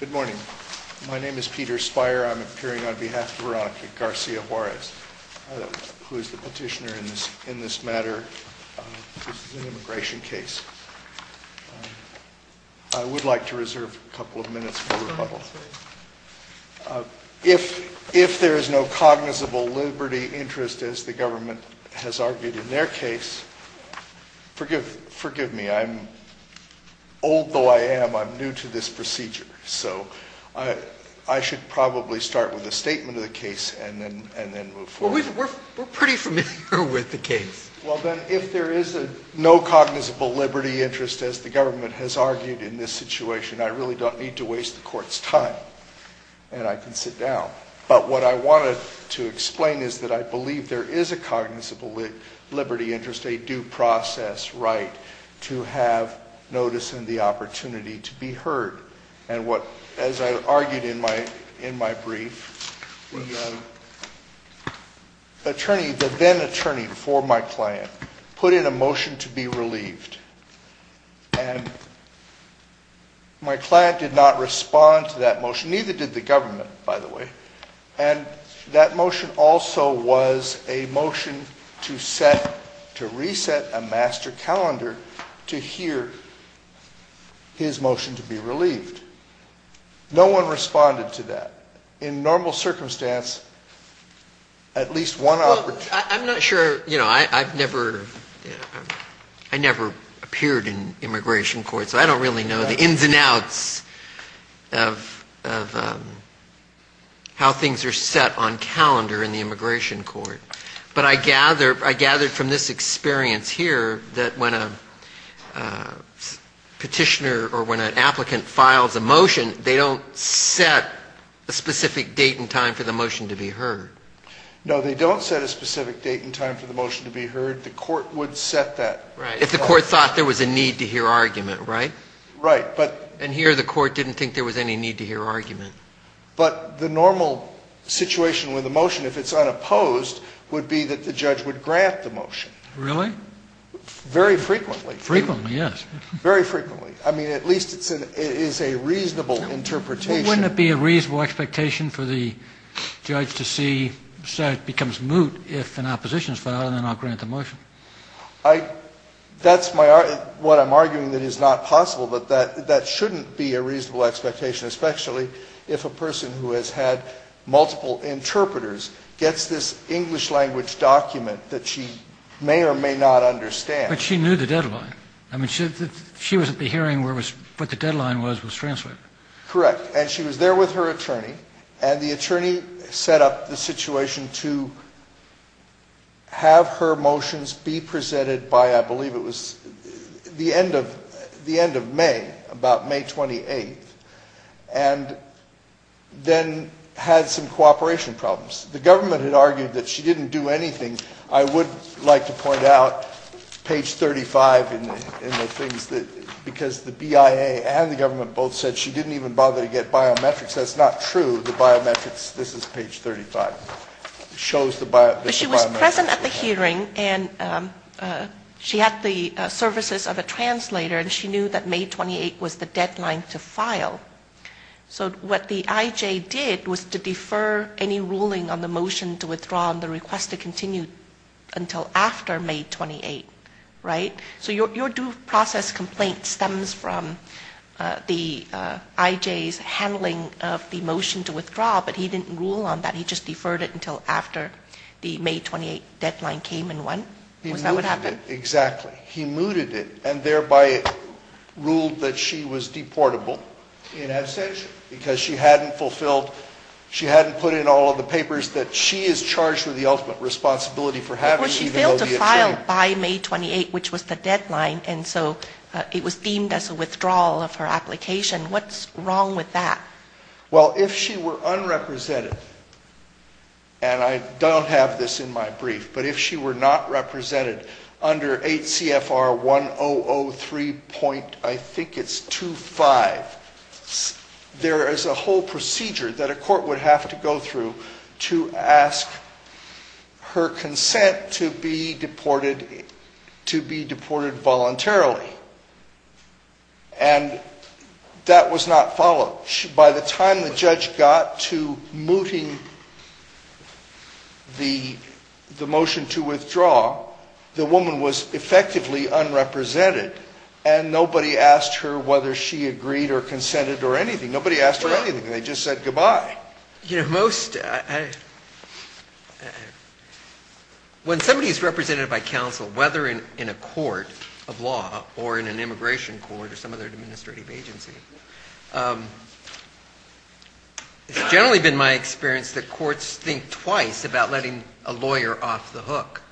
Good morning. My name is Peter Speier. I'm appearing on behalf of Veronica Garcia-Juarez, who is the petitioner in this matter. This is an immigration case. I would like to reserve a couple of minutes for rebuttal. If there is no cognizable liberty interest, as the government has argued in their case, forgive me, I'm old though I am, I'm new to this procedure, so I should probably start with a statement of the case and then move forward. We're pretty familiar with the case. Well then, if there is no cognizable liberty interest, as the government has argued in this situation, I really don't need to waste the court's time and I can sit down. But what I wanted to explain is that I believe there is a cognizable liberty interest, a due process right to have notice and the opportunity to be heard. As I argued in my brief, the then-attorney for my client put in a motion to be relieved. My client did not respond to that motion, neither did the government, by the way. And that motion also was a motion to set, to reset a master calendar to hear his motion to be relieved. No one responded to that. In normal circumstance, at least one opportunity... I'm not sure, you know, I've never, I never appeared in immigration court, so I don't really know the ins and outs of how things are set on calendar in the immigration court. But I gather from this experience here that when a petitioner or when an applicant files a motion, they don't set a specific date and time for the motion to be heard. No, they don't set a specific date and time for the motion to be heard. The court would set that. If the court thought there was a need to hear argument, right? Right, but... And here the court didn't think there was any need to hear argument. But the normal situation with a motion, if it's unopposed, would be that the judge would grant the motion. Really? Very frequently. Frequently, yes. Very frequently. I mean, at least it's a reasonable interpretation. Wouldn't it be a reasonable expectation for the judge to see, so it becomes moot, if an opposition is filed and then I'll grant the motion? I... That's what I'm arguing that is not possible, but that shouldn't be a reasonable expectation, especially if a person who has had multiple interpreters gets this English language document that she may or may not understand. But she knew the deadline. I mean, she was at the hearing where what the deadline was, was translated. Correct. And she was there with her attorney, and the attorney set up the situation to have her motions be presented by, I believe it was the end of May, about May 28th, and then had some cooperation problems. The government had argued that she didn't do anything. I would like to point out, page 35 in the things, because the BIA and the government both said she didn't even bother to get biometrics. That's not true. The biometrics, this is page 35, shows the biometrics. She was present at the hearing, and she had the services of a translator, and she knew that May 28th was the deadline to file. So what the IJ did was to defer any ruling on the motion to withdraw and the request to continue until after May 28th, right? So your due process complaint stems from the IJ's handling of the motion to withdraw, but he didn't rule on that. He just deferred it until after the May 28th deadline came and went? Was that what happened? Exactly. He mooted it, and thereby ruled that she was deportable in absentia, because she hadn't fulfilled, she hadn't put in all of the papers that she is charged with the ultimate responsibility for having, even though the attorney... But she failed to file by May 28th, which was the deadline, and so it was deemed as a withdrawal of her application. What's wrong with that? Well, if she were unrepresented, and I don't have this in my brief, but if she were not represented under 8 CFR 1003.25, there is a whole procedure that a court would have to go through to ask her consent to be deported voluntarily, and that was not followed. By the time the judge got to mooting the motion to withdraw, the woman was effectively unrepresented, and nobody asked her whether she agreed or consented or anything. Nobody asked her anything. They just said goodbye. When somebody is represented by counsel, whether in a court of law or in an immigration court or some other administrative agency, it's generally been my experience that courts think twice about letting a lawyer off the hook.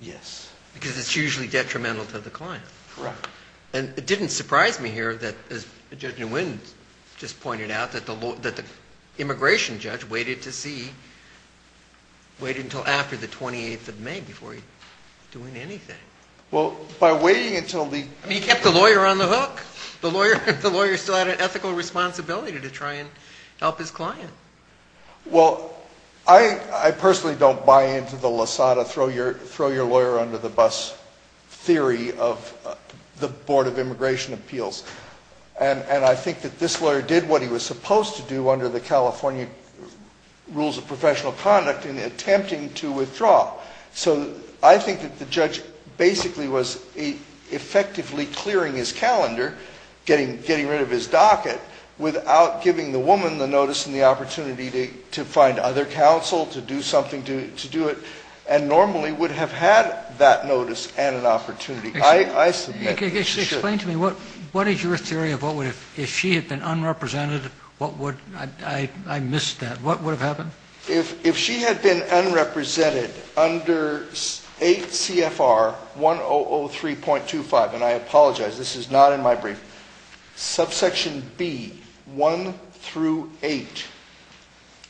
Yes. Because it's usually detrimental to the client. Right. And it didn't surprise me here that, as Judge Nguyen just pointed out, that the immigration judge waited to see, waited until after the 28th of May before doing anything. Well, by waiting until the... He kept the lawyer on the hook. The lawyer still had an ethical responsibility to try and help his client. Well, I personally don't buy into the Lassada throw-your-lawyer-under-the-bus theory of the Board of Immigration Appeals, and I think that this lawyer did what he was supposed to do under the California rules of professional conduct in attempting to withdraw. So I think that the judge basically was effectively clearing his calendar, getting rid of his docket, without giving the woman the notice and the opportunity to find other counsel, to do something, to do it, and normally would have had that notice and an opportunity. I submit that she should. Explain to me, what is your theory of what would have... If she had been unrepresented, what would... I missed that. What would have happened? If she had been unrepresented under 8 CFR 1003.25, and I apologize, this is not in my brief, subsection B, 1 through 8,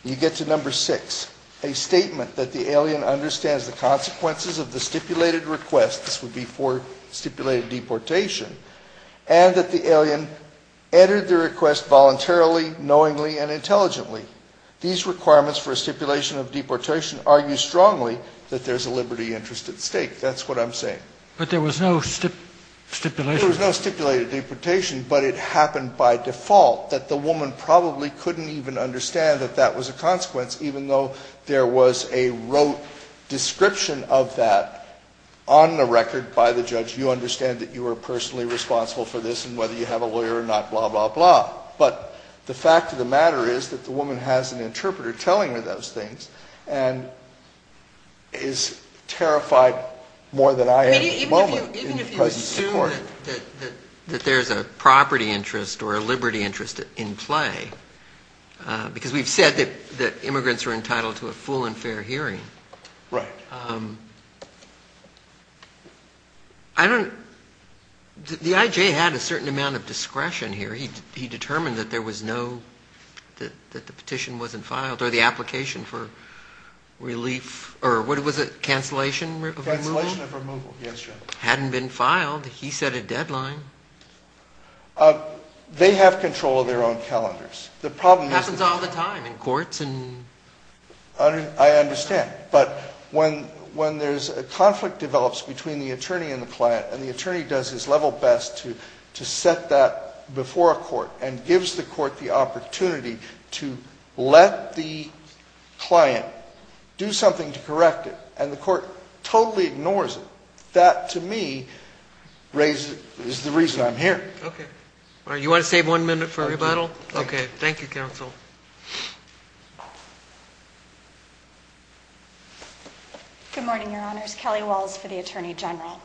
you get to number 6. A statement that the alien understands the consequences of the stipulated request, this would be for stipulated deportation, and that the alien entered the request voluntarily, knowingly, and intelligently. These requirements for a stipulation of deportation argue strongly that there's a liberty interest at stake. That's what I'm saying. But there was no stipulation? There was no stipulated deportation, but it happened by default, that the woman probably couldn't even understand that that was a consequence, even though there was a rote description of that on the record by the judge. You understand that you are personally responsible for this, and whether you have a lawyer or not, blah, blah, blah. But the fact of the matter is that the woman has an interpreter telling her those things and is terrified more than I am at the moment. Even if you assume that there's a property interest or a liberty interest in play, because we've said that immigrants are entitled to a full and fair hearing, the IJ had a certain amount of discretion here. He determined that there was no, that the petition wasn't filed, or the application for relief, or what was it, cancellation of removal? Cancellation of removal, yes, your honor. Hadn't been filed. He set a deadline. They have control of their own calendars. It happens all the time in courts. I understand. He does his level best to set that before a court and gives the court the opportunity to let the client do something to correct it, and the court totally ignores it. That, to me, is the reason I'm here. Okay. All right, you want to save one minute for rebuttal? Okay, thank you, counsel. Good morning, your honors. Kelly Walls for the Attorney General.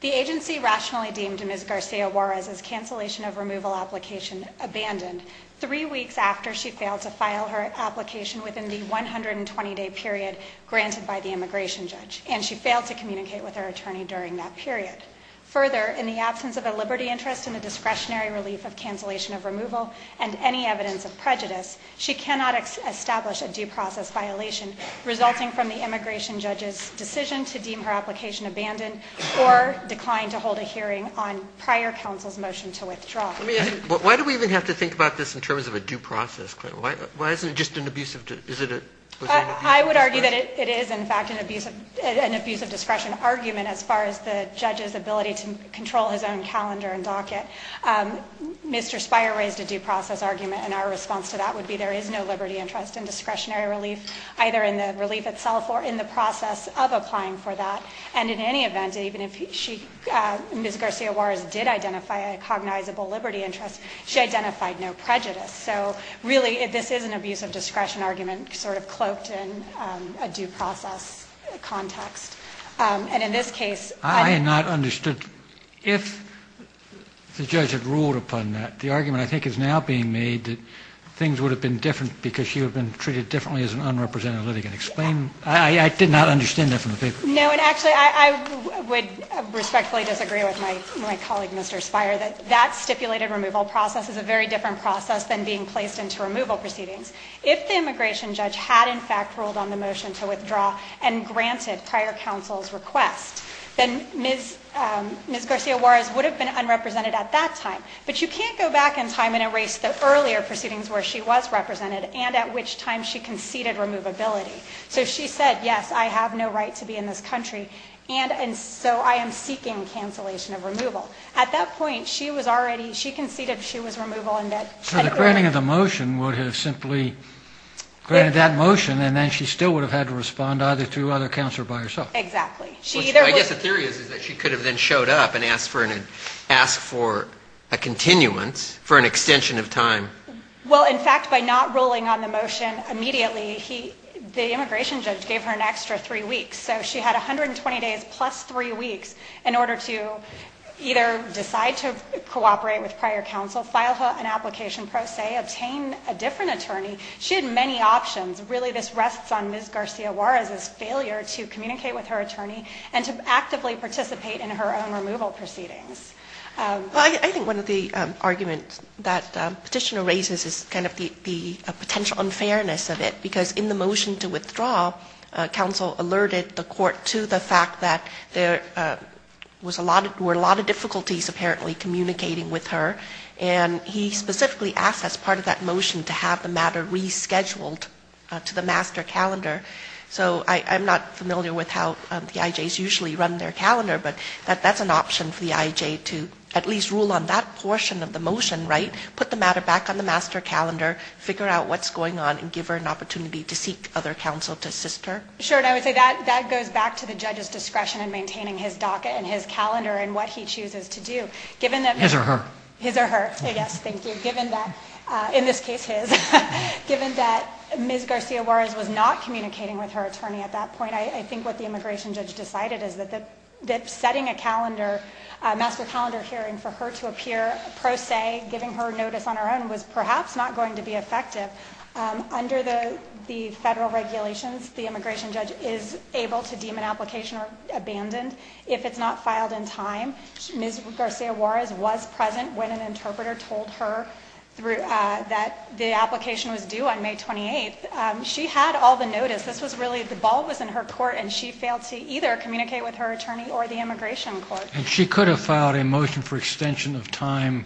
The agency rationally deemed Ms. Garcia Juarez's cancellation of removal application abandoned three weeks after she failed to file her application within the 120-day period granted by the immigration judge, and she failed to communicate with her attorney during that period. Further, in the absence of a liberty interest in the discretionary relief of cancellation of removal and any evidence of prejudice, she cannot establish a due process violation resulting from the immigration judge's decision to deem her application abandoned or decline to hold a hearing on prior counsel's motion to withdraw. Let me ask you, why do we even have to think about this in terms of a due process? I would argue that it is, in fact, an abuse of discretion argument as far as the judge's ability to control his own calendar and docket. Mr. Speier raised a due process argument, and our response to that would be there is no liberty interest in discretionary relief, either in the relief itself or in the process of applying for that. And in any event, even if Ms. Garcia Juarez did identify a cognizable liberty interest, she identified no prejudice. So really, this is an abuse of discretion argument sort of cloaked in a due process context. And in this case— I had not understood. If the judge had ruled upon that, the argument I think is now being made that things would have been different because she would have been treated differently as an unrepresented litigant. Explain—I did not understand that from the paper. No, and actually, I would respectfully disagree with my colleague, Mr. Speier, that that stipulated removal process is a very different process than being placed into removal proceedings. If the immigration judge had, in fact, ruled on the motion to withdraw and granted prior counsel's request, then Ms. Garcia Juarez would have been unrepresented at that time. But you can't go back in time and erase the earlier proceedings where she was represented and at which time she conceded removability. So she said, yes, I have no right to be in this country, and so I am seeking cancellation of removal. At that point, she was already—she conceded she was removal and that— So the granting of the motion would have simply granted that motion, and then she still would have had to respond either to other counsel or by herself. Exactly. She either— Well, in fact, by not ruling on the motion immediately, he—the immigration judge gave her an extra three weeks. So she had 120 days plus three weeks in order to either decide to cooperate with prior counsel, file an application pro se, obtain a different attorney. She had many options. Really, this rests on Ms. Garcia Juarez's failure to communicate with her attorney and to actively participate in her own removal proceedings. Well, I think one of the arguments that Petitioner raises is kind of the potential unfairness of it, because in the motion to withdraw, counsel alerted the court to the fact that there was a lot—there were a lot of difficulties apparently communicating with her, and he specifically asked as part of that motion to have the matter rescheduled to the master calendar. So I'm not familiar with how the IJs usually run their calendar, but that's an option for the IJ to at least rule on that portion of the motion, right? Put the matter back on the master calendar, figure out what's going on, and give her an opportunity to seek other counsel to assist her? Sure, and I would say that goes back to the judge's discretion in maintaining his docket and his calendar and what he chooses to do. Given that— His or her? His or her. Yes, thank you. Given that—in this case, his—given that Ms. Garcia Juarez was not communicating with her attorney at that point, I think what the immigration judge decided is that setting a calendar—master calendar hearing for her to appear pro se, giving her notice on her own, was perhaps not going to be effective. Under the federal regulations, the immigration judge is able to deem an application abandoned if it's not filed in time. Ms. Garcia Juarez was present when an interpreter told her that the application was due on May 28th. She had all the notice. This was really—the ball was in her court, and she failed to either communicate with her attorney or the immigration court. And she could have filed a motion for extension of time—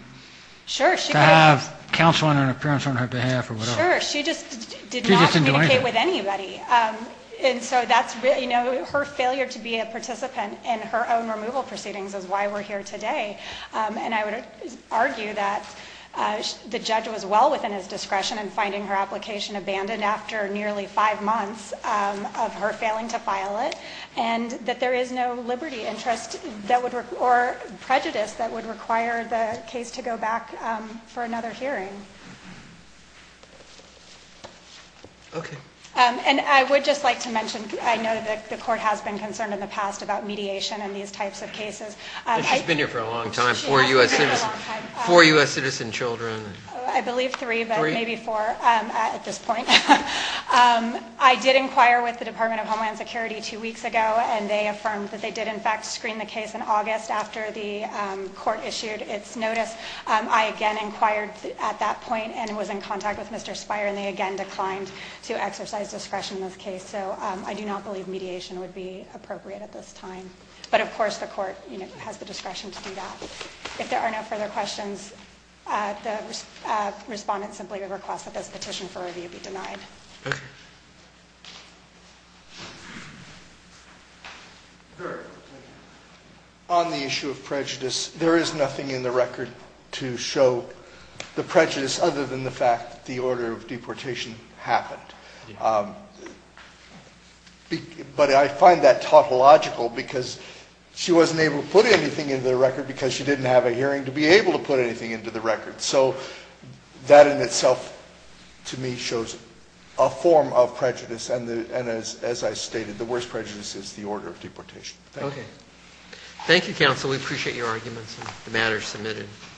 Sure, she could have. —to have counsel on an appearance on her behalf or whatever. Sure, she just did not communicate with anybody. She just didn't do anything. And so that's really—you know, her failure to be a participant in her own removal proceedings is why we're here today. And I would argue that the judge was well within his discretion in finding her application abandoned after nearly five months of her failing to file it, and that there is no liberty interest that would—or prejudice that would require the case to go back for another hearing. Okay. And I would just like to mention, I know that the court has been concerned in the past about mediation in these types of cases. She's been here for a long time, four U.S. citizen children. I believe three, but maybe four at this point. I did inquire with the Department of Homeland Security two weeks ago, and they affirmed that they did, in fact, screen the case in August after the court issued its notice. I again inquired at that point and was in contact with Mr. Speier, and they again declined to exercise discretion in this case. So I do not believe mediation would be appropriate at this time. But of course, the court has the discretion to do that. If there are no further questions, the respondent simply requests that this petition for review be denied. On the issue of prejudice, there is nothing in the record to show the prejudice other than the fact that the order of deportation happened. But I find that tautological, because she wasn't able to put anything into the record because she didn't have a hearing to be able to put anything into the record. So that in itself, to me, shows a form of prejudice. And as I stated, the worst prejudice is the order of deportation. Thank you. Thank you, counsel. We appreciate your arguments and the matters submitted.